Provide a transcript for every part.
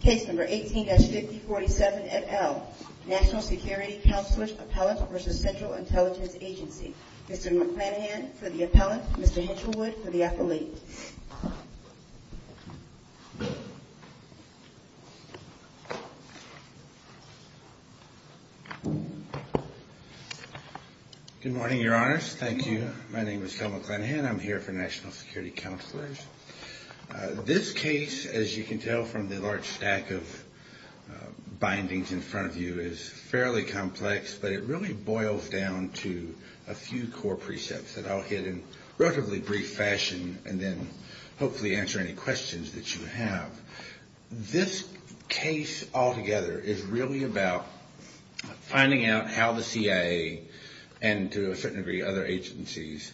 Case number 18-5047 et al. National Security Counselors Appellant v. Central Intelligence Agency. Mr. McClanahan for the appellant, Mr. Hinchelwood for the affiliate. Good morning, your honors. Thank you. My name is Kel McClanahan. I'm here for National Security Counselors. This case, as you can tell from the large stack of bindings in front of you, is fairly complex, but it really boils down to a few core precepts that I'll hit in relatively brief fashion and then I'll get to the core precepts. And hopefully answer any questions that you have. This case altogether is really about finding out how the CIA and to a certain degree other agencies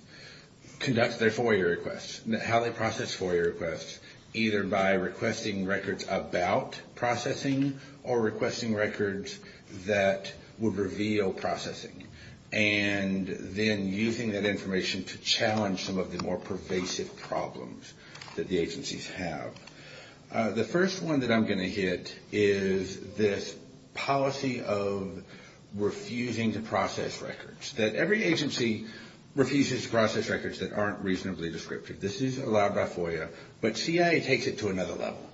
conduct their FOIA requests, how they process FOIA requests, either by requesting records about processing or requesting records that would reveal processing. And then using that information to challenge some of the more pervasive problems that the agencies have. The first one that I'm going to hit is this policy of refusing to process records, that every agency refuses to process records that aren't reasonably descriptive. This isn't allowed by FOIA, but CIA takes it to another level.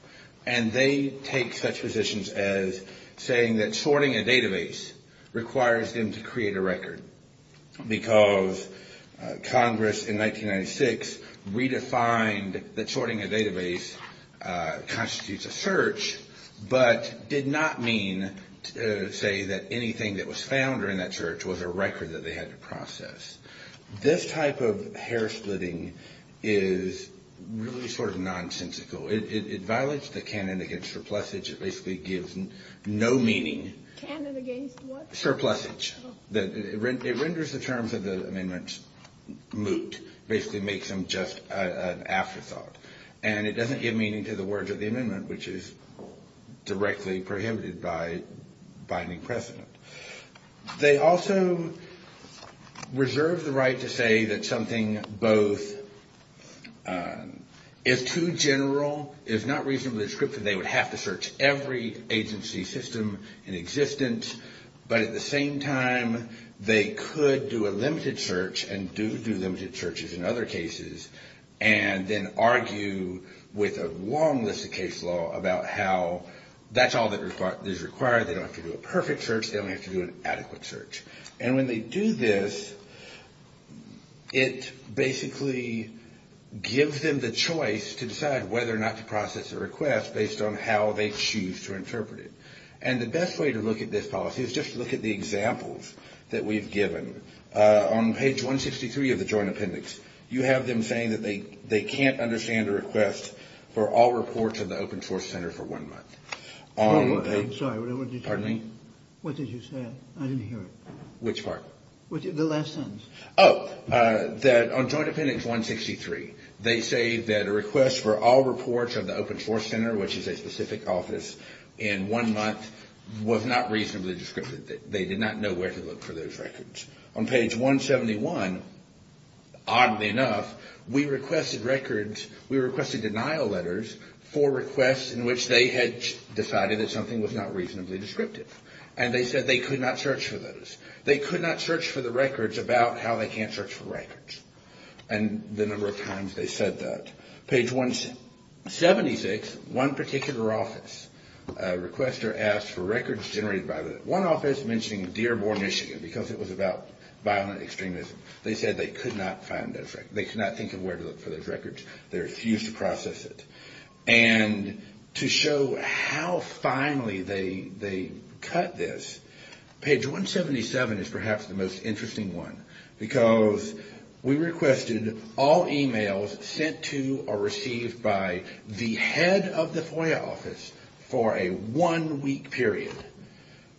And they take such positions as saying that sorting a database requires them to create a record because Congress in 1996 redefined that sorting a database constitutes a search, but did not mean to say that anything that was found during that search was a record that they had to process. This type of hair splitting is really sort of nonsensical. It violates the canon against surplusage. It basically gives no meaning. It renders the terms of the amendment moot, basically makes them just an afterthought. And it doesn't give meaning to the words of the amendment, which is directly prohibited by binding precedent. They also reserve the right to say that something both is too general, is not reasonably descriptive, they would have to search every agency system in existence, but at the same time, they could do a limited search and do do limited searches in other cases, and then argue with a long list of case law about how that's all that is required. They don't have to do a perfect search. They only have to do an adequate search. And when they do this, it basically gives them the choice to decide whether or not to process a request based on how they choose to interpret it. And the best way to look at this policy is just to look at the examples that we've given. On page 163 of the Joint Appendix, you have them saying that they can't understand a request for all reports of the Open Source Center for one month. I'm sorry, what did you say? I didn't hear it. Which part? The last sentence. Oh, that on Joint Appendix 163, they say that a request for all reports of the Open Source Center, which is a specific office, in one month was not reasonably descriptive. They did not know where to look for those records. On page 171, oddly enough, we requested records, we requested denial letters for requests in which they had decided that something was not reasonably descriptive. And they said they could not search for those. They could not search for the records about how they can't search for records. And the number of times they said that. Page 176, one particular office, a requester asked for records generated by the, one office mentioning Dearborn, Michigan, because it was about violent extremism. They said they could not find those records. They could not think of where to look for those records. They refused to process it. And to show how finely they cut this, page 177 is perhaps the most interesting one. Because we requested all emails sent to or received by the head of the FOIA office for a one-week period.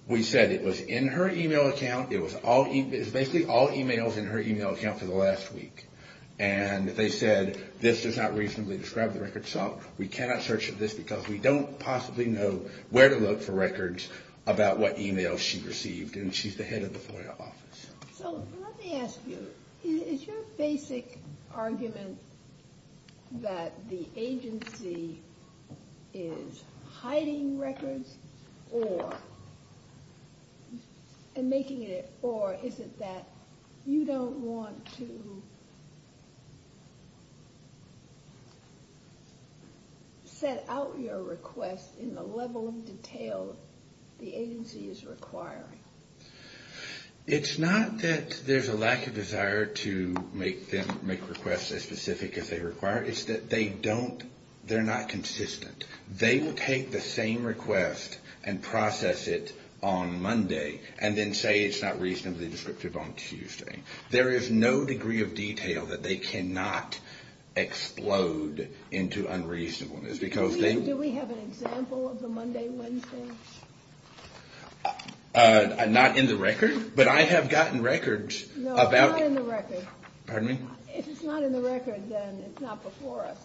We said it was in her email account. It was basically all emails in her email account for the last week. And they said this does not reasonably describe the records. So we cannot search for this because we don't possibly know where to look for records about what emails she received. And she's the head of the FOIA office. So let me ask you, is your basic argument that the agency is hiding records and making it, or is it that you don't want to set out your request in the level of detail the agency is requiring? It's not that there's a lack of desire to make them, make requests as specific as they require. It's that they don't, they're not consistent. They will take the same request and process it on Monday and then say it's not reasonably descriptive on Tuesday. There is no degree of detail that they cannot explode into unreasonableness. Do we have an example of the Monday-Wednesday? Not in the record, but I have gotten records. No, not in the record. Pardon me? If it's not in the record, then it's not before us.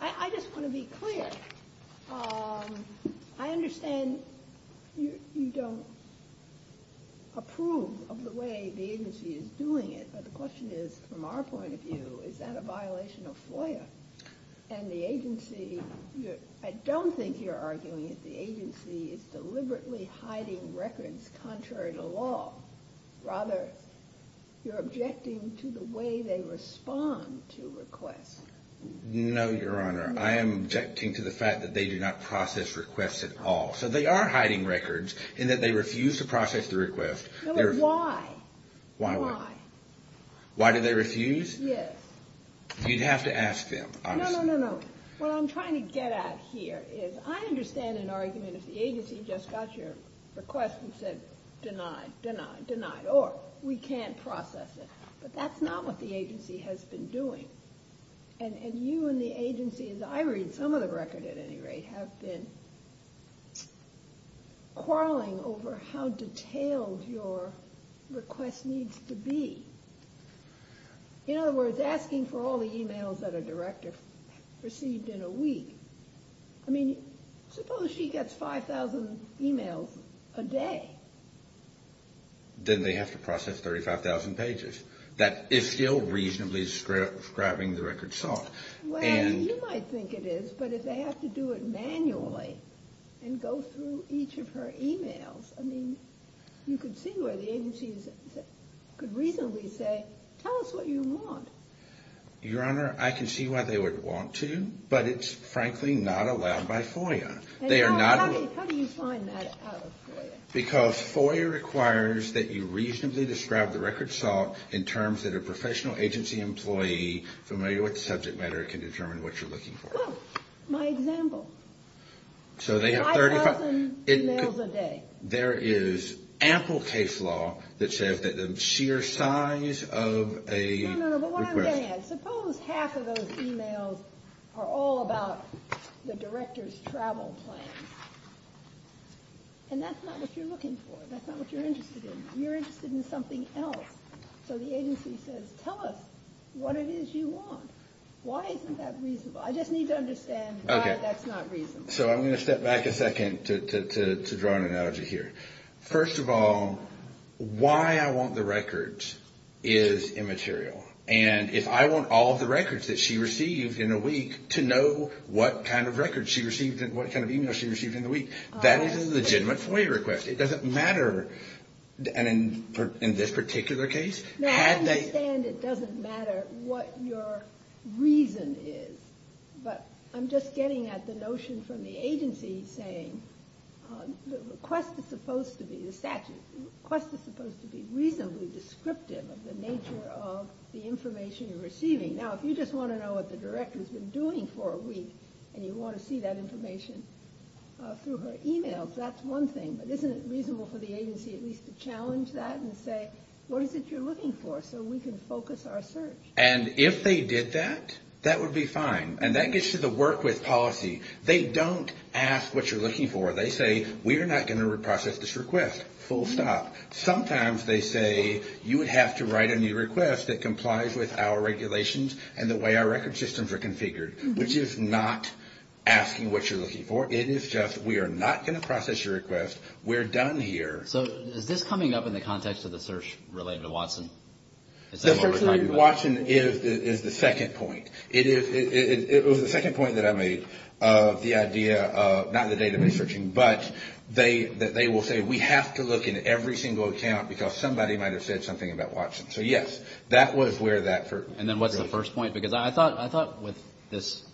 I just want to be clear. I understand you don't approve of the way the agency is doing it, but the question is, from our point of view, is that a violation of FOIA? And the agency, I don't think you're arguing that the agency is deliberately hiding records contrary to law. Rather, you're objecting to the way they respond to requests. No, Your Honor. I am objecting to the fact that they do not process requests at all. So they are hiding records in that they refuse to process the request. Why? Why do they refuse? Yes. You'd have to ask them, honestly. No, no, no, no. What I'm trying to get at here is I understand an argument if the agency just got your request and said, denied, denied, denied, or we can't process it. But that's not what the agency has been doing. And you and the agency, as I read some of the record at any rate, have been quarreling over how detailed your request needs to be. In other words, asking for all the e-mails that a director received in a week. I mean, suppose she gets 5,000 e-mails a day. Then they have to process 35,000 pages. That is still reasonably grabbing the record soft. Well, you might think it is, but if they have to do it manually and go through each of her e-mails, I mean, you could see where the agency could reasonably say, tell us what you want. Your Honor, I can see why they would want to, but it's frankly not allowed by FOIA. How do you find that out of FOIA? Because FOIA requires that you reasonably describe the record soft in terms that a professional agency employee familiar with the subject matter can determine what you're looking for. Well, my example. 5,000 e-mails a day. There is ample case law that says that the sheer size of a request. Suppose half of those e-mails are all about the director's travel plans. And that's not what you're looking for. That's not what you're interested in. You're interested in something else. So the agency says, tell us what it is you want. Why isn't that reasonable? I just need to understand why that's not reasonable. So I'm going to step back a second to draw an analogy here. First of all, why I want the records is immaterial. And if I want all of the records that she received in a week to know what kind of records she received and what kind of e-mails she received in the week, that is a legitimate FOIA request. It doesn't matter. And in this particular case. Now, I understand it doesn't matter what your reason is. But I'm just getting at the notion from the agency saying the request is supposed to be the statute. The request is supposed to be reasonably descriptive of the nature of the information you're receiving. Now, if you just want to know what the director has been doing for a week and you want to see that information through her e-mails, that's one thing. But isn't it reasonable for the agency at least to challenge that and say, what is it you're looking for, so we can focus our search? And if they did that, that would be fine. And that gets to the work with policy. They don't ask what you're looking for. They say, we are not going to reprocess this request. Full stop. Sometimes they say, you would have to write a new request that complies with our regulations and the way our record systems are configured. Which is not asking what you're looking for. It is just, we are not going to process your request. We're done here. So is this coming up in the context of the search related to Watson? The search related to Watson is the second point. It was the second point that I made of the idea of not the database searching. But they will say, we have to look in every single account because somebody might have said something about Watson. So, yes, that was where that first. And then what's the first point? Because I thought with this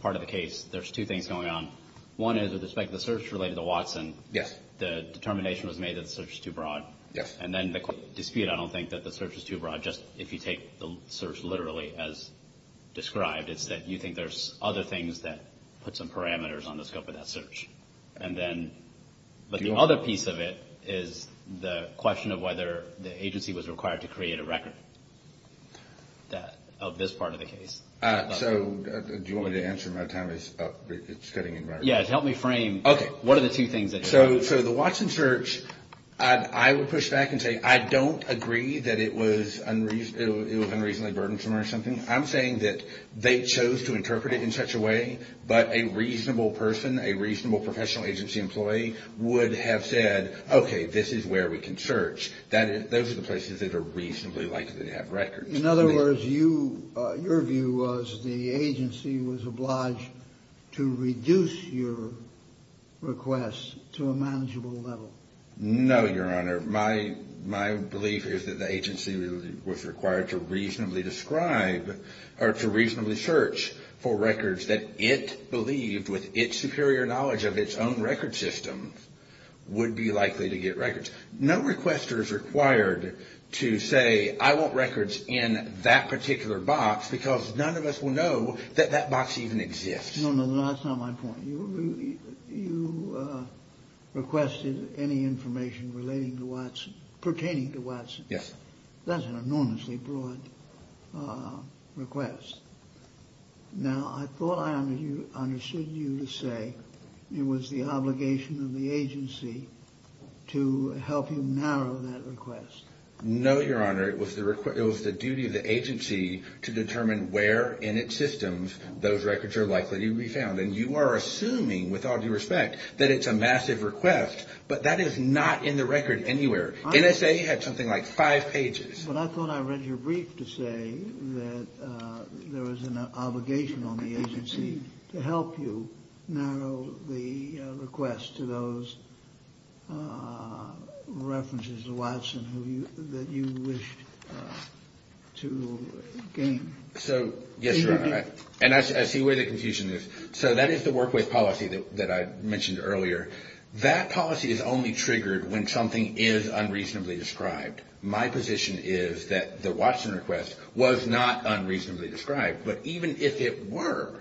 part of the case, there's two things going on. One is with respect to the search related to Watson. Yes. The determination was made that the search was too broad. Yes. And then the dispute, I don't think that the search was too broad. Just if you take the search literally as described, it's that you think there's other things that put some parameters on the scope of that search. And then, but the other piece of it is the question of whether the agency was required to create a record of this part of the case. So, do you want me to answer? My time is up. It's cutting in right now. Yes, help me frame. Okay. What are the two things? So, the Watson search, I would push back and say I don't agree that it was unreasonably burdensome or something. I'm saying that they chose to interpret it in such a way, but a reasonable person, a reasonable professional agency employee would have said, okay, this is where we can search. Those are the places that are reasonably likely to have records. In other words, your view was the agency was obliged to reduce your requests to a manageable level. No, Your Honor. My belief is that the agency was required to reasonably describe or to reasonably search for records that it believed, with its superior knowledge of its own record system, would be likely to get records. No requester is required to say I want records in that particular box because none of us will know that that box even exists. No, no. That's not my point. You requested any information relating to Watson, pertaining to Watson. Yes. That's an enormously broad request. Now, I thought I understood you to say it was the obligation of the agency to help you narrow that request. No, Your Honor. It was the duty of the agency to determine where in its systems those records are likely to be found. And you are assuming, with all due respect, that it's a massive request, but that is not in the record anywhere. NSA had something like five pages. But I thought I read your brief to say that there was an obligation on the agency to help you narrow the request to those references to Watson that you wished to gain. So, yes, Your Honor. And I see where the confusion is. So that is the workway policy that I mentioned earlier. That policy is only triggered when something is unreasonably described. My position is that the Watson request was not unreasonably described. But even if it were,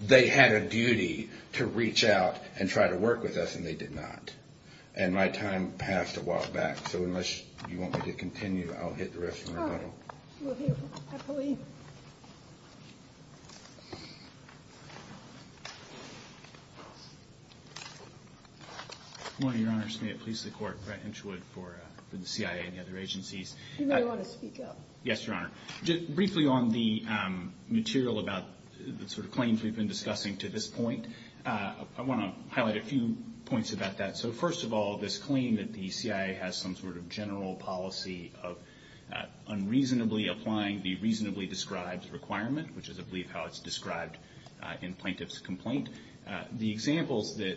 they had a duty to reach out and try to work with us, and they did not. And my time passed a while back. So unless you want me to continue, I'll hit the rest of the rebuttal. Oh. Well, here. I believe. Good morning, Your Honor. May it please the Court, Brett Hinchwood for the CIA and the other agencies. You may want to speak up. Yes, Your Honor. Briefly on the material about the sort of claims we've been discussing to this point, I want to highlight a few points about that. So, first of all, this claim that the CIA has some sort of general policy of unreasonably applying the reasonably described requirement, which is, I believe, how it's described in plaintiff's complaint. The examples that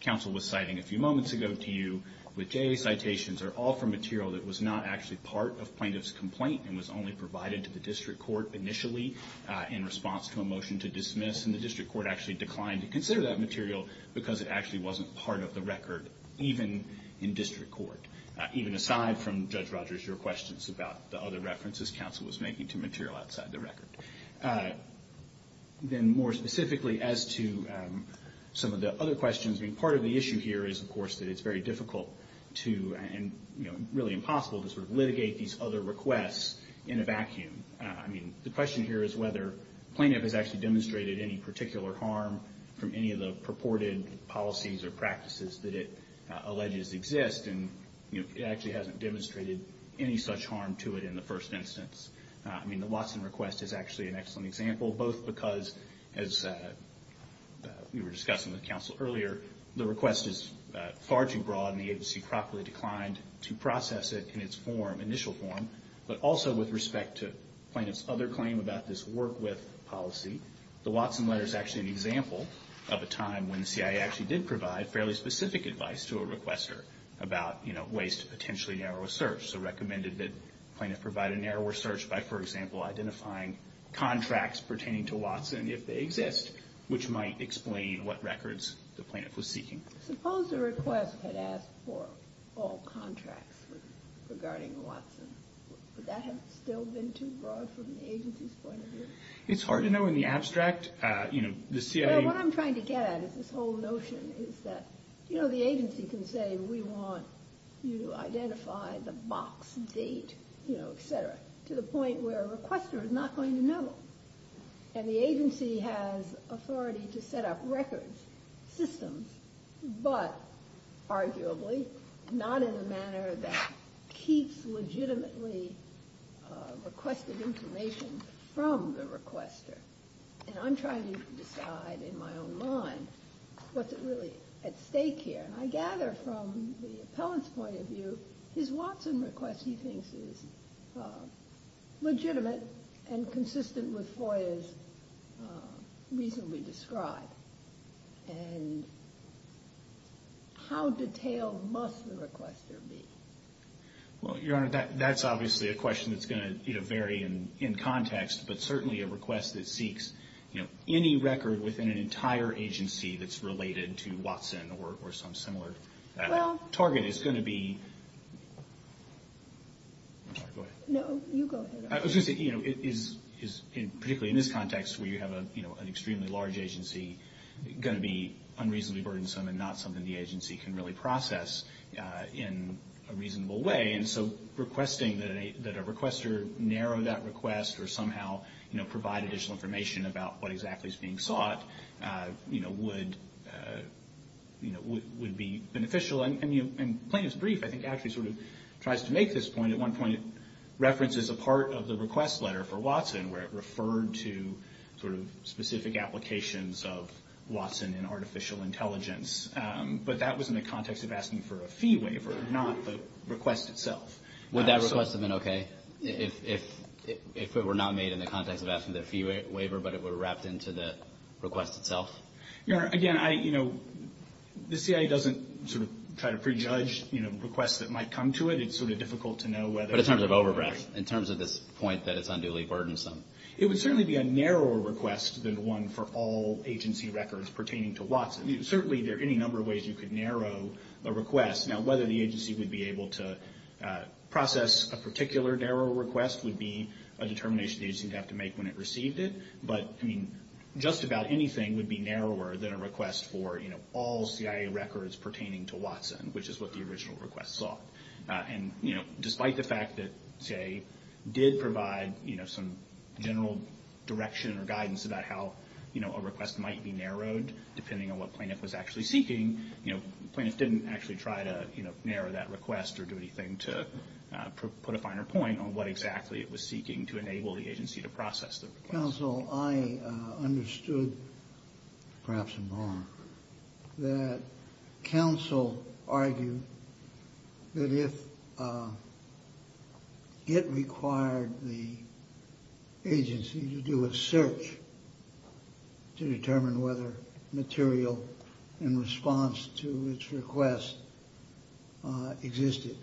counsel was citing a few moments ago to you with JA citations are all from material that was not actually part of plaintiff's complaint and was only provided to the district court initially in response to a motion to dismiss. And the district court actually declined to consider that material because it actually wasn't part of the record, even in district court. Even aside from, Judge Rogers, your questions about the other references counsel was making to material outside the record. Then more specifically as to some of the other questions. I mean, part of the issue here is, of course, that it's very difficult to and, you know, really impossible to sort of litigate these other requests in a vacuum. I mean, the question here is whether plaintiff has actually demonstrated any particular harm from any of the purported policies or practices that it alleges exist and, you know, it actually hasn't demonstrated any such harm to it in the first instance. I mean, the Watson request is actually an excellent example, both because, as we were discussing with counsel earlier, the request is far too broad and the agency properly declined to process it in its form, initial form, but also with respect to plaintiff's other claim about this work with policy. The Watson letter is actually an example of a time when the CIA actually did provide fairly specific advice to a requester about, you know, ways to potentially narrow a search. So recommended that plaintiff provide a narrower search by, for example, identifying contracts pertaining to Watson, if they exist, which might explain what records the plaintiff was seeking. Suppose the request had asked for all contracts regarding Watson. Would that have still been too broad from the agency's point of view? It's hard to know in the abstract. You know, the CIA... Well, what I'm trying to get at is this whole notion is that, you know, the agency can say we want you to identify the box date, you know, et cetera, to the point where a requester is not going to know. And the agency has authority to set up records, systems, but arguably not in the manner that keeps legitimately requested information from the requester. And I'm trying to decide in my own mind what's really at stake here. And I gather from the appellant's point of view, his Watson request, he thinks, is legitimate and consistent with FOIA's reasonably described. And how detailed must the requester be? Well, Your Honor, that's obviously a question that's going to vary in context, but certainly a request that seeks, you know, any record within an entire agency that's related to Watson or some similar target is going to be... I'm sorry, go ahead. No, you go ahead. I was going to say, you know, particularly in this context where you have an extremely large agency, it's going to be unreasonably burdensome and not something the agency can really process in a reasonable way. And so requesting that a requester narrow that request or somehow, you know, provide additional information about what exactly is being sought, you know, would be beneficial. And plaintiff's brief, I think, actually sort of tries to make this point. At one point it references a part of the request letter for Watson where it referred to sort of specific applications of Watson in artificial intelligence. But that was in the context of asking for a fee waiver, not the request itself. Would that request have been okay if it were not made in the context of asking for a fee waiver, but it were wrapped into the request itself? Your Honor, again, I, you know, the CIA doesn't sort of try to prejudge, you know, requests that might come to it. It's sort of difficult to know whether... But in terms of overbreadth, in terms of this point that it's unduly burdensome. It would certainly be a narrower request than one for all agency records pertaining to Watson. Certainly there are any number of ways you could narrow a request. Now whether the agency would be able to process a particular narrow request would be a determination the agency would have to make when it received it. But, I mean, just about anything would be narrower than a request for, you know, all CIA records pertaining to Watson, which is what the original request sought. And, you know, despite the fact that CIA did provide, you know, some general direction or guidance about how, you know, a request might be narrowed, depending on what plaintiff was actually seeking, you know, plaintiff didn't actually try to, you know, narrow that request or do anything to put a finer point on what exactly it was seeking to enable the agency to process the request. Counsel, I understood, perhaps more, that counsel argued that if it required the agency to do a search to determine whether material in response to its request existed,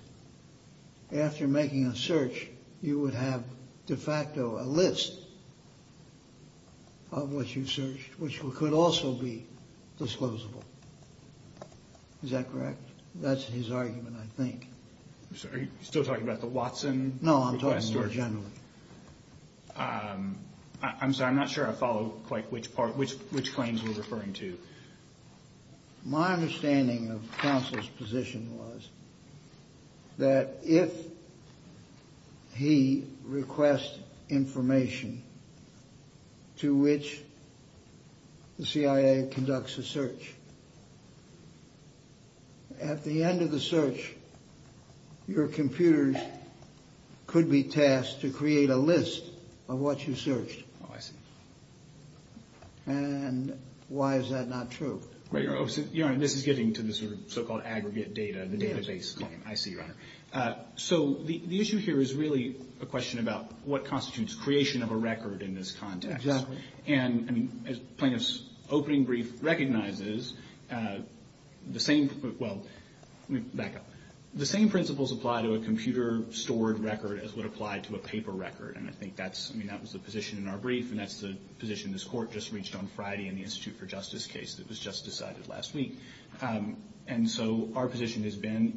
after making a search you would have de facto a list of what you searched, which could also be disclosable. Is that correct? That's his argument, I think. Are you still talking about the Watson request? No, I'm talking more generally. I'm sorry, I'm not sure I follow quite which part, which claims you're referring to. My understanding of counsel's position was that if he requests information to which the CIA conducts a search, at the end of the search your computers could be tasked to create a list of what you searched. Oh, I see. And why is that not true? Right, Your Honor, this is getting to the sort of so-called aggregate data, the database claim. I see, Your Honor. So the issue here is really a question about what constitutes creation of a record in this context. Exactly. And plaintiff's opening brief recognizes the same principles apply to a computer-stored record as would apply to a paper record. And I think that was the position in our brief, and that's the position this Court just reached on Friday in the Institute for Justice case that was just decided last week. And so our position has been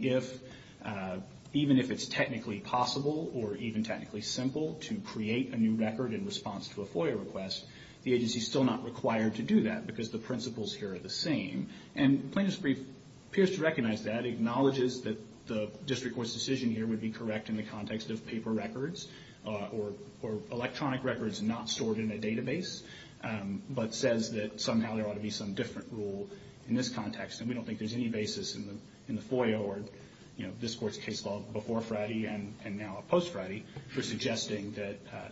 even if it's technically possible or even technically simple to create a new record in response to a FOIA request, the agency is still not required to do that because the principles here are the same. And plaintiff's brief appears to recognize that, acknowledges that the district court's decision here would be correct in the context of paper records or electronic records not stored in a database, but says that somehow there ought to be some different rule in this context. And we don't think there's any basis in the FOIA or, you know,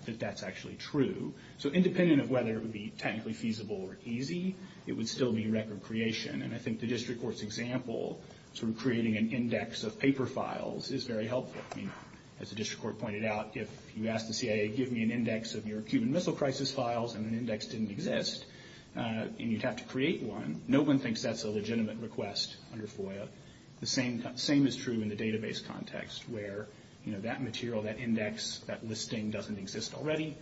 that that's actually true. So independent of whether it would be technically feasible or easy, it would still be record creation. And I think the district court's example, sort of creating an index of paper files, is very helpful. I mean, as the district court pointed out, if you ask the CIA give me an index of your Cuban Missile Crisis files and an index didn't exist and you'd have to create one, no one thinks that's a legitimate request under FOIA. The same is true in the database context where, you know, that material, that index, that listing doesn't exist already.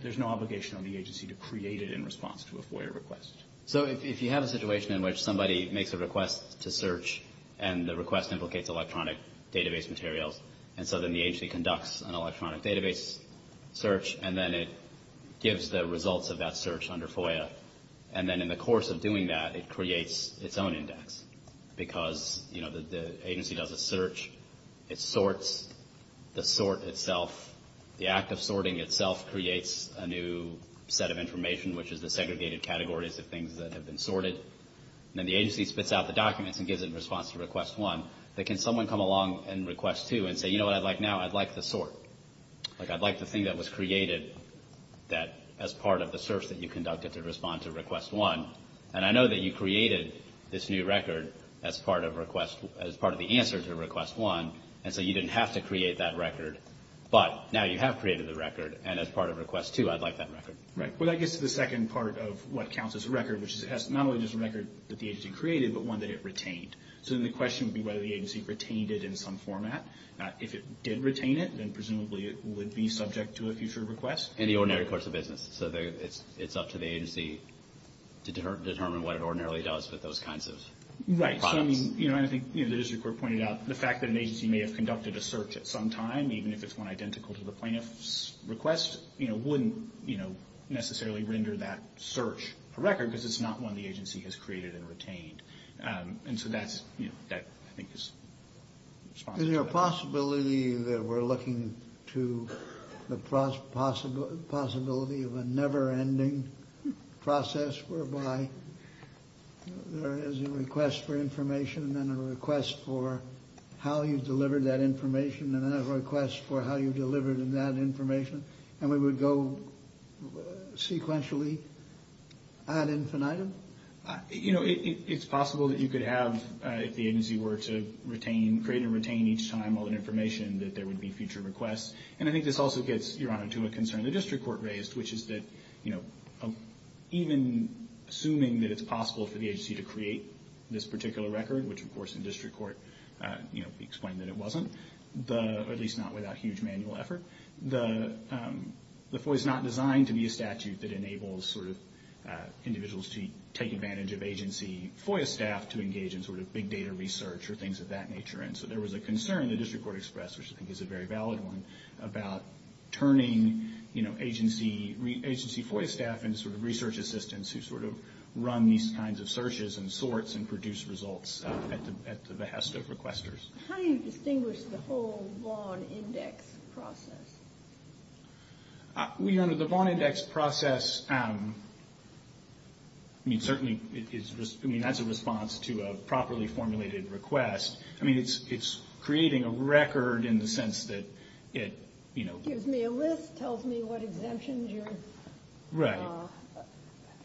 There's no obligation on the agency to create it in response to a FOIA request. So if you have a situation in which somebody makes a request to search and the request implicates electronic database materials and so then the agency conducts an electronic database search and then it gives the results of that search under FOIA, and then in the course of doing that it creates its own index because, you know, the agency does a search. It sorts the sort itself. The act of sorting itself creates a new set of information, which is the segregated categories of things that have been sorted. And then the agency spits out the documents and gives it in response to Request 1. But can someone come along in Request 2 and say, you know what I'd like now? I'd like the sort. Like I'd like the thing that was created that as part of the search that you conducted to respond to Request 1. And I know that you created this new record as part of the answer to Request 1, and so you didn't have to create that record. But now you have created the record, and as part of Request 2, I'd like that record. Right. Well, that gets to the second part of what counts as a record, which is it has not only this record that the agency created, but one that it retained. So then the question would be whether the agency retained it in some format. If it did retain it, then presumably it would be subject to a future request. In the ordinary course of business. So it's up to the agency to determine what it ordinarily does with those kinds of products. Right. So I mean, you know, and I think the district court pointed out the fact that an agency may have conducted a search at some time, even if it's one identical to the plaintiff's request, you know, wouldn't necessarily render that search a record because it's not one the agency has created and retained. And so that's, you know, that I think is responsible. Is there a possibility that we're looking to the possibility of a never ending process whereby there is a request for information and then a request for how you deliver that information and then a request for how you deliver that information and we would go sequentially ad infinitum? You know, it's possible that you could have, if the agency were to retain, create and retain each time all that information, that there would be future requests. And I think this also gets, Your Honor, to a concern the district court raised, which is that, you know, even assuming that it's possible for the agency to create this particular record, which of course in district court, you know, we explained that it wasn't, at least not without huge manual effort, the FOIA is not designed to be a statute that enables sort of individuals to take advantage of agency FOIA staff to engage in sort of big data research or things of that nature. And so there was a concern the district court expressed, which I think is a very valid one, about turning, you know, agency FOIA staff into sort of research assistants who sort of run these kinds of searches and sorts and produce results at the behest of requesters. How do you distinguish the whole Vaughn Index process? Well, Your Honor, the Vaughn Index process, I mean, certainly, I mean, that's a response to a properly formulated request. I mean, it's creating a record in the sense that it, you know... Gives me a list, tells me what exemptions you're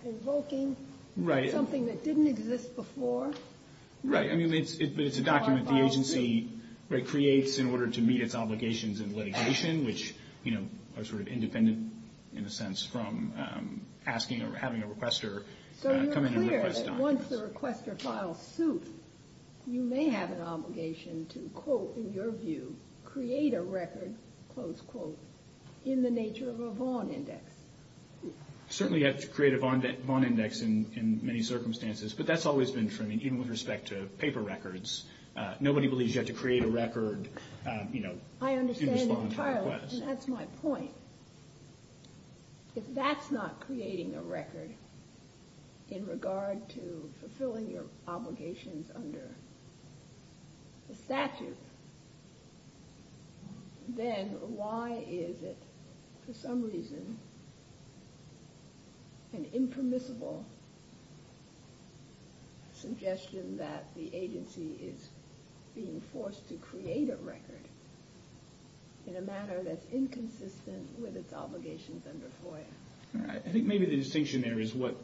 invoking, something that didn't exist before. Right. I mean, but it's a document the agency creates in order to meet its obligations in litigation, which, you know, are sort of independent, in a sense, from asking or having a requester come in and request documents. So you're clear that once the requester files suit, you may have an obligation to, quote, in your view, create a record, close quote, in the nature of a Vaughn Index. Certainly you have to create a Vaughn Index in many circumstances, but that's always been true, I mean, even with respect to paper records. Nobody believes you have to create a record, you know, in response to a request. I understand entirely, and that's my point. If that's not creating a record in regard to fulfilling your obligations under the statute, then why is it, for some reason, an impermissible suggestion that the agency is being forced to create a record in a manner that's inconsistent with its obligations under FOIA? I think maybe the distinction there is what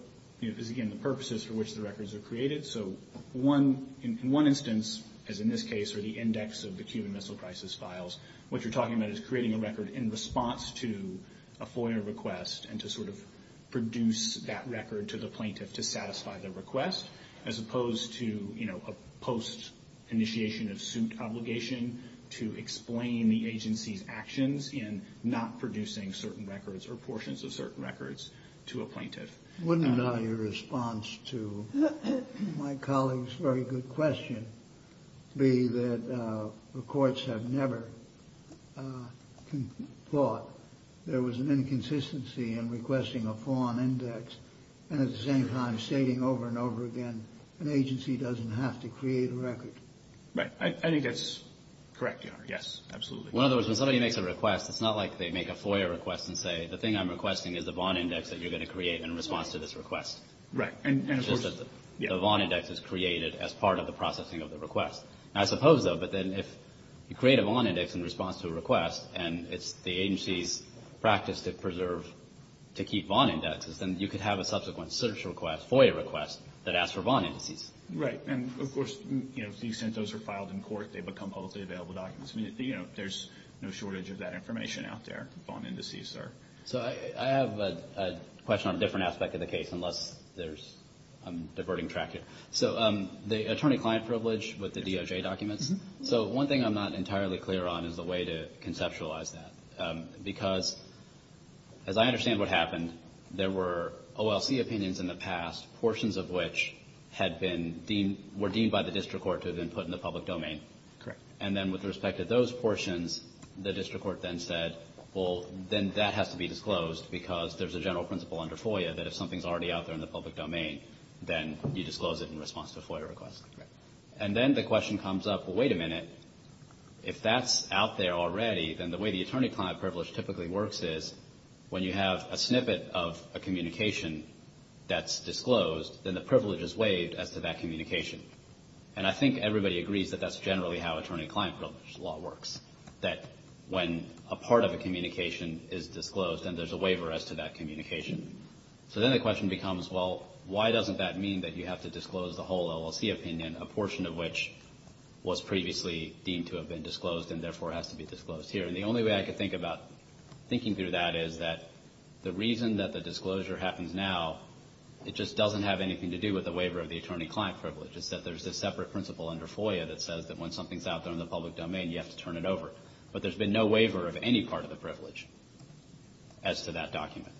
is, again, the purposes for which the records are created. So in one instance, as in this case, or the index of the Cuban Missile Crisis files, what you're talking about is creating a record in response to a FOIA request and to sort of produce that record to the plaintiff to satisfy the request, as opposed to, you know, a post-initiation of suit obligation to explain the agency's actions in not producing certain records or portions of certain records to a plaintiff. Wouldn't your response to my colleague's very good question be that the courts have never thought there was an inconsistency in requesting a FOIA index and, at the same time, stating over and over again an agency doesn't have to create a record? Right. I think that's correct, Your Honor. Yes, absolutely. In other words, when somebody makes a request, it's not like they make a FOIA request and say, the thing I'm requesting is the bond index that you're going to create in response to this request. Right. And, of course, yes. It's just that the bond index is created as part of the processing of the request. I suppose, though, but then if you create a bond index in response to a request and it's the agency's practice to preserve, to keep bond indexes, then you could have a subsequent search request, FOIA request, that asks for bond indices. Right. And, of course, you know, if these CENTOs are filed in court, they become publicly available documents. I mean, you know, there's no shortage of that information out there. So I have a question on a different aspect of the case, unless I'm diverting track here. So the attorney-client privilege with the DOJ documents. So one thing I'm not entirely clear on is the way to conceptualize that, because as I understand what happened, there were OLC opinions in the past, portions of which were deemed by the district court to have been put in the public domain. Correct. And then with respect to those portions, the district court then said, well, then that has to be disclosed because there's a general principle under FOIA that if something's already out there in the public domain, then you disclose it in response to a FOIA request. Correct. And then the question comes up, well, wait a minute, if that's out there already, then the way the attorney-client privilege typically works is when you have a snippet of a communication that's disclosed, then the privilege is waived as to that communication. And I think everybody agrees that that's generally how attorney-client privilege law works, that when a part of a communication is disclosed and there's a waiver as to that communication. So then the question becomes, well, why doesn't that mean that you have to disclose the whole OLC opinion, a portion of which was previously deemed to have been disclosed and therefore has to be disclosed here? And the only way I could think about thinking through that is that the reason that the disclosure happens now, it just doesn't have anything to do with the waiver of the attorney-client privilege. It's just that there's this separate principle under FOIA that says that when something's out there in the public domain, you have to turn it over. But there's been no waiver of any part of the privilege as to that document.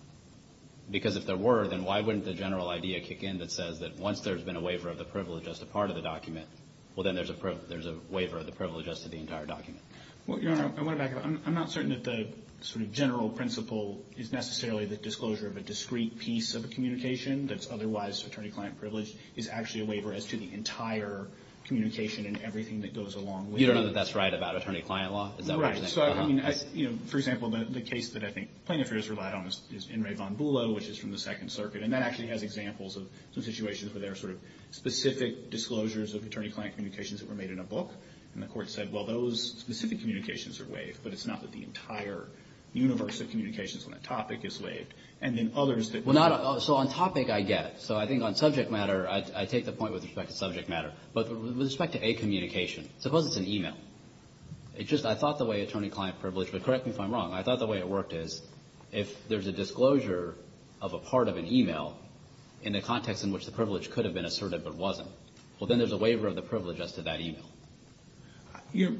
Because if there were, then why wouldn't the general idea kick in that says that once there's been a waiver of the privilege as to part of the document, well, then there's a waiver of the privilege as to the entire document? Well, Your Honor, I want to back up. I'm not certain that the sort of general principle is necessarily the disclosure of a discrete piece of a communication that's otherwise attorney-client privilege is actually a waiver as to the entire communication and everything that goes along with it. You don't know that that's right about attorney-client law? Is that what you're saying? Right. So, I mean, you know, for example, the case that I think Plain Affairs relied on is In Re Von Bulow, which is from the Second Circuit. And that actually has examples of some situations where there are sort of specific disclosures of attorney-client communications that were made in a book. And the Court said, well, those specific communications are waived, but it's not that the entire universe of communications on that topic is waived. And then others that were not. So on topic, I get it. So I think on subject matter, I take the point with respect to subject matter. But with respect to a communication, suppose it's an e-mail. It's just I thought the way attorney-client privilege, but correct me if I'm wrong, I thought the way it worked is if there's a disclosure of a part of an e-mail in the context in which the privilege could have been asserted but wasn't, well, then there's a waiver of the privilege as to that e-mail.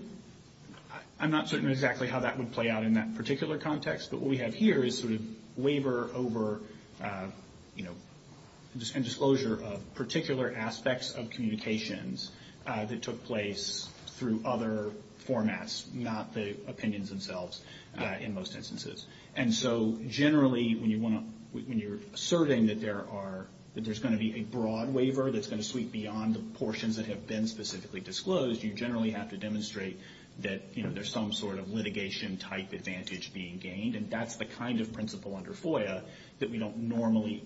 I'm not certain exactly how that would play out in that particular context, but what we have here is sort of waiver over and disclosure of particular aspects of communications that took place through other formats, not the opinions themselves in most instances. And so generally when you're asserting that there's going to be a broad waiver that's going to sweep beyond the portions that have been specifically disclosed, you generally have to demonstrate that there's some sort of litigation-type advantage being gained. And that's the kind of principle under FOIA that we don't normally,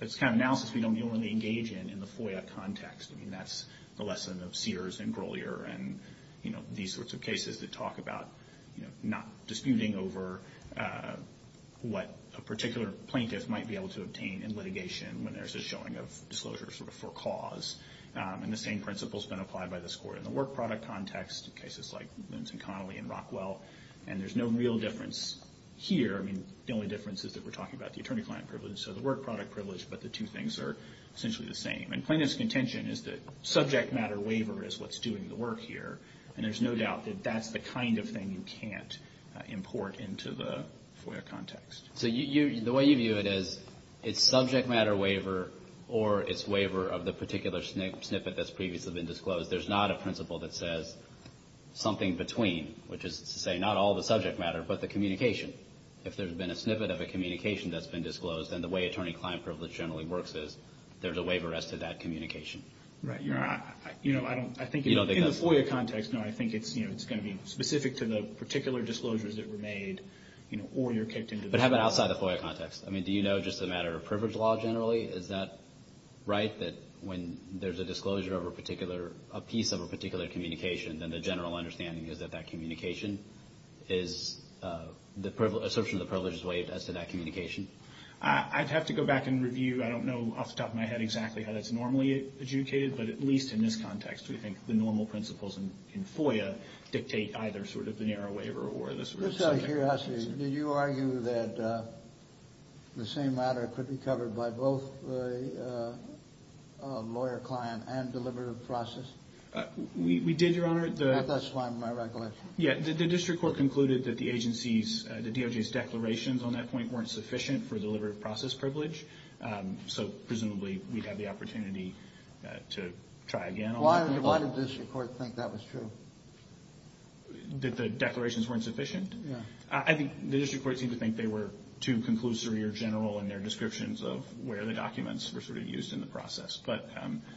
that's the kind of analysis we don't normally engage in in the FOIA context. I mean, that's the lesson of Sears and Grolier and, you know, these sorts of cases that talk about, you know, not disputing over what a particular plaintiff might be able to obtain in litigation when there's a showing of disclosure sort of for cause. And the same principle's been applied by this court in the work product context, in cases like Luntz and Connolly and Rockwell, and there's no real difference here. I mean, the only difference is that we're talking about the attorney-client privilege, so the work product privilege, but the two things are essentially the same. And plaintiff's contention is that subject matter waiver is what's doing the work here, and there's no doubt that that's the kind of thing you can't import into the FOIA context. So the way you view it is it's subject matter waiver or it's waiver of the particular snippet that's previously been disclosed. There's not a principle that says something between, which is to say not all the subject matter but the communication. If there's been a snippet of a communication that's been disclosed, then the way attorney-client privilege generally works is there's a waiver as to that communication. Right. You know, I think in the FOIA context, no, I think it's going to be specific to the particular disclosures that were made, you know, or you're kicked into the FOIA context. But how about outside the FOIA context? I mean, do you know just a matter of privilege law generally? Is that right, that when there's a disclosure of a particular, a piece of a particular communication, then the general understanding is that that communication is the privilege, assertion of the privilege is waived as to that communication? I'd have to go back and review. I don't know off the top of my head exactly how that's normally adjudicated, but at least in this context we think the normal principles in FOIA dictate either sort of the narrow waiver or the sort of subject matter. Just out of curiosity, did you argue that the same matter could be covered by both a lawyer-client and deliberative process? We did, Your Honor. That's fine with my recollection. Yeah. The district court concluded that the agency's, the DOJ's declarations on that point weren't sufficient for deliberative process privilege, so presumably we'd have the opportunity to try again on that. Why did the district court think that was true? That the declarations weren't sufficient? Yeah. I think the district court seemed to think they were too conclusory or general in their descriptions of where the documents were sort of used in the process.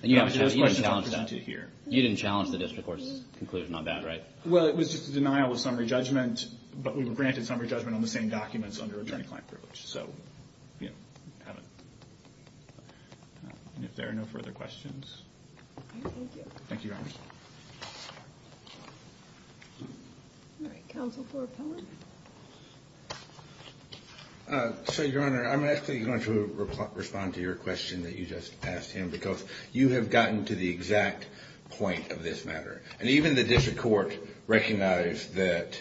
You didn't challenge that. You didn't challenge the district court's conclusion on that, right? Well, it was just a denial of summary judgment, but we were granted summary judgment on the same documents under attorney-client privilege. So, you know, we have it. Thank you. Thank you, Your Honor. All right. Counsel for Appellant? So, Your Honor, I'm actually going to respond to your question that you just asked him, because you have gotten to the exact point of this matter. And even the district court recognized that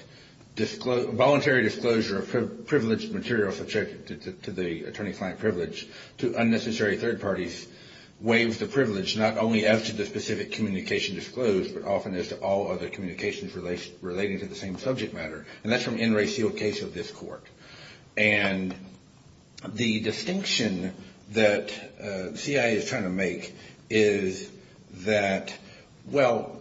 voluntary disclosure of privileged materials subject to the attorney-client privilege to unnecessary third parties waives the privilege not only as to the specific communication disclosed, but often as to all other communications relating to the same subject matter. And that's from N. Ray Seale's case of this court. And the distinction that the CIA is trying to make is that, well,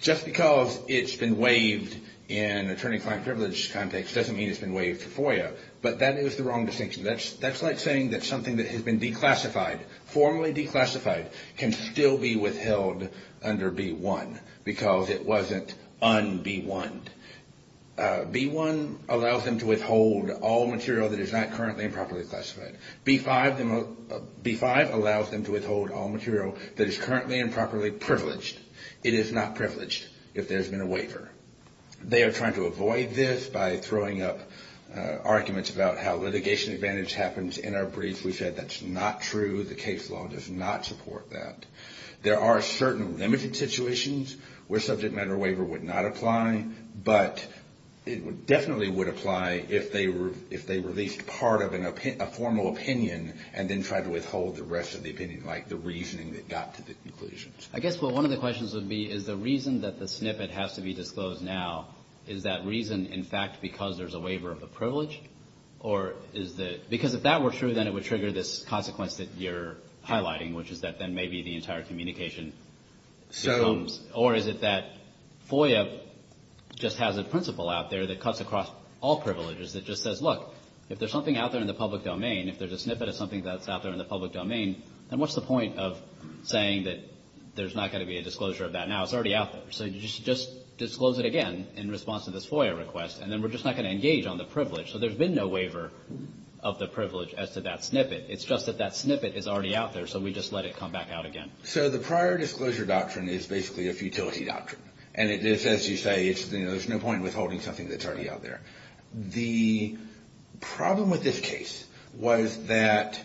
just because it's been waived in attorney-client privilege context doesn't mean it's been waived for FOIA. But that is the wrong distinction. That's like saying that something that has been declassified, formally declassified, can still be withheld under B-1 because it wasn't un-B-1'd. B-1 allows them to withhold all material that is not currently and properly classified. B-5 allows them to withhold all material that is currently and properly privileged. It is not privileged if there has been a waiver. They are trying to avoid this by throwing up arguments about how litigation advantage happens in our briefs. We said that's not true. The case law does not support that. There are certain limited situations where subject matter waiver would not apply, but it definitely would apply if they released part of a formal opinion and then tried to withhold the rest of the opinion, like the reasoning that got to the conclusions. I guess what one of the questions would be is the reason that the snippet has to be disclosed now, is that reason, in fact, because there's a waiver of the privilege? Or is the — because if that were true, then it would trigger this consequence that you're highlighting, which is that then maybe the entire communication becomes — So — Or is it that FOIA just has a principle out there that cuts across all privileges that just says, look, if there's something out there in the public domain, if there's a snippet of something that's out there in the public domain, then what's the point of saying that there's not going to be a disclosure of that now? It's already out there. So just disclose it again in response to this FOIA request, and then we're just not going to engage on the privilege. So there's been no waiver of the privilege as to that snippet. It's just that that snippet is already out there, so we just let it come back out again. So the prior disclosure doctrine is basically a futility doctrine. And it is, as you say, there's no point in withholding something that's already out there. The problem with this case was that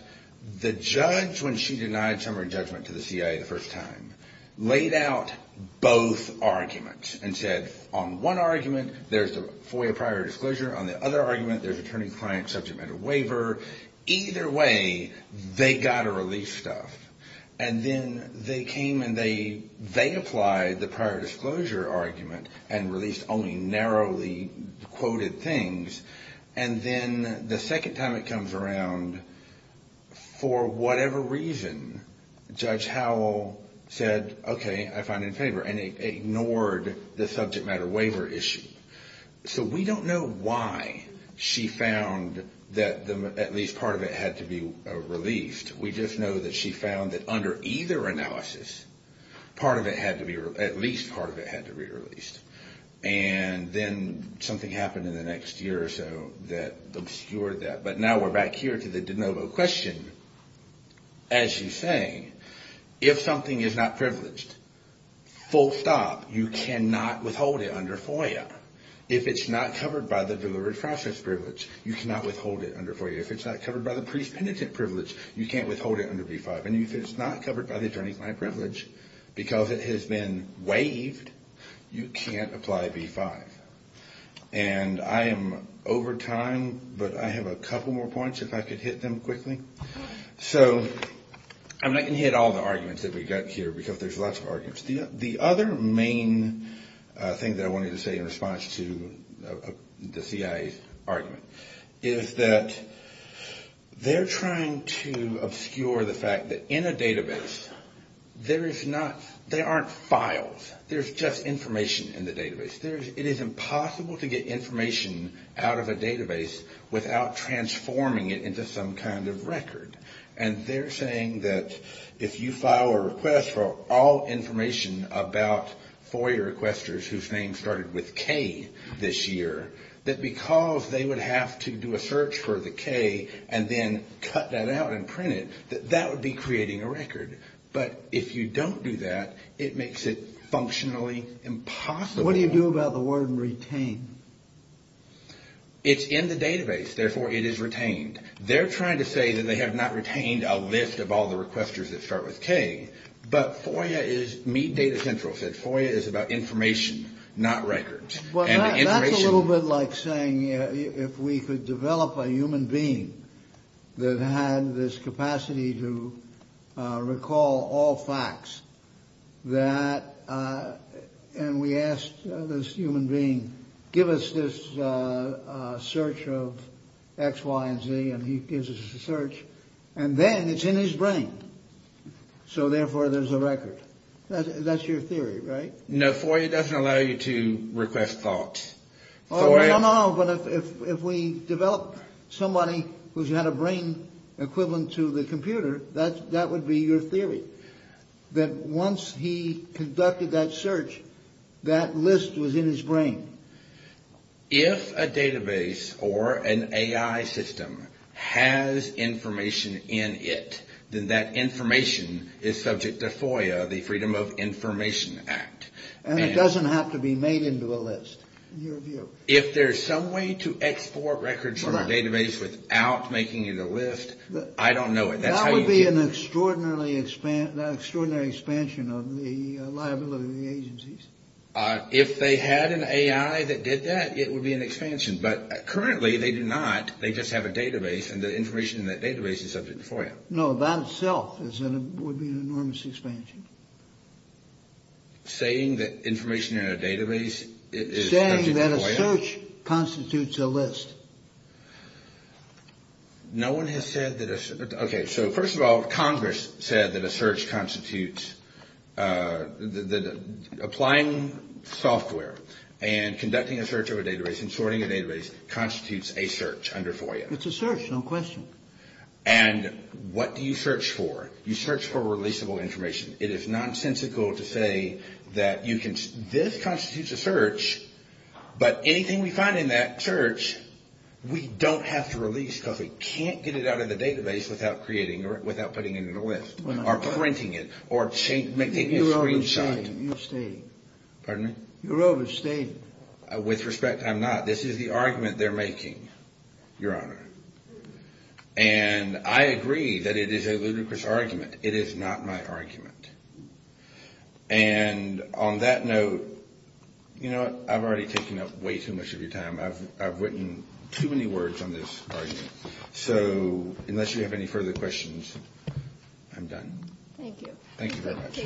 the judge, when she denied summary judgment to the CIA the first time, laid out both arguments and said, on one argument, there's the FOIA prior disclosure. On the other argument, there's attorney-client subject matter waiver. Either way, they got to release stuff. And then they came and they applied the prior disclosure argument and released only narrowly quoted things. And then the second time it comes around, for whatever reason, Judge Howell said, okay, I find it in favor, and ignored the subject matter waiver issue. So we don't know why she found that at least part of it had to be released. We just know that she found that under either analysis, at least part of it had to be released. And then something happened in the next year or so that obscured that. But now we're back here to the de novo question. As you say, if something is not privileged, full stop, you cannot withhold it under FOIA. If it's not covered by the Delivered Process Privilege, you cannot withhold it under FOIA. If it's not covered by the Pre-Penitent Privilege, you can't withhold it under B-5. And if it's not covered by the Attorney-Client Privilege because it has been waived, you can't apply B-5. And I am over time, but I have a couple more points if I could hit them quickly. So I'm not going to hit all the arguments that we've got here because there's lots of arguments. The other main thing that I wanted to say in response to the CIA's argument is that they're trying to obscure the fact that in a database, there is not, there aren't files. There's just information in the database. It is impossible to get information out of a database without transforming it into some kind of record. And they're saying that if you file a request for all information about FOIA requesters whose names started with K this year, that because they would have to do a search for the K and then cut that out and print it, that that would be creating a record. But if you don't do that, it makes it functionally impossible. What do you do about the word retained? It's in the database. Therefore, it is retained. They're trying to say that they have not retained a list of all the requesters that start with K. But FOIA is, Mead Data Central said FOIA is about information, not records. Well, that's a little bit like saying if we could develop a human being that had this capacity to recall all facts, that and we asked this human being, give us this search of X, Y, and Z. And he gives us a search. And then it's in his brain. So therefore, there's a record. That's your theory, right? No, FOIA doesn't allow you to request thoughts. No, no. But if we develop somebody who's had a brain equivalent to the computer, that that would be your theory, that once he conducted that search, that list was in his brain. If a database or an A.I. system has information in it, then that information is subject to FOIA, the Freedom of Information Act. And it doesn't have to be made into a list, in your view. If there's some way to export records from a database without making it a list, I don't know it. That would be an extraordinary expansion of the liability of the agencies. If they had an A.I. that did that, it would be an expansion. But currently, they do not. They just have a database, and the information in that database is subject to FOIA. No, that itself would be an enormous expansion. Saying that information in a database is subject to FOIA? Saying that a search constitutes a list. No one has said that a – okay, so first of all, Congress said that a search constitutes – that applying software and conducting a search of a database and sorting a database constitutes a search under FOIA. It's a search, no question. And what do you search for? You search for releasable information. It is nonsensical to say that you can – this constitutes a search, but anything we find in that search, we don't have to release because we can't get it out of the database without creating – without putting it in a list or printing it or making a screenshot. You're overstating. Pardon me? You're overstating. With respect, I'm not. This is the argument they're making, Your Honor. And I agree that it is a ludicrous argument. It is not my argument. And on that note, you know what? I've already taken up way too much of your time. I've written too many words on this argument. So unless you have any further questions, I'm done. Thank you. Thank you very much.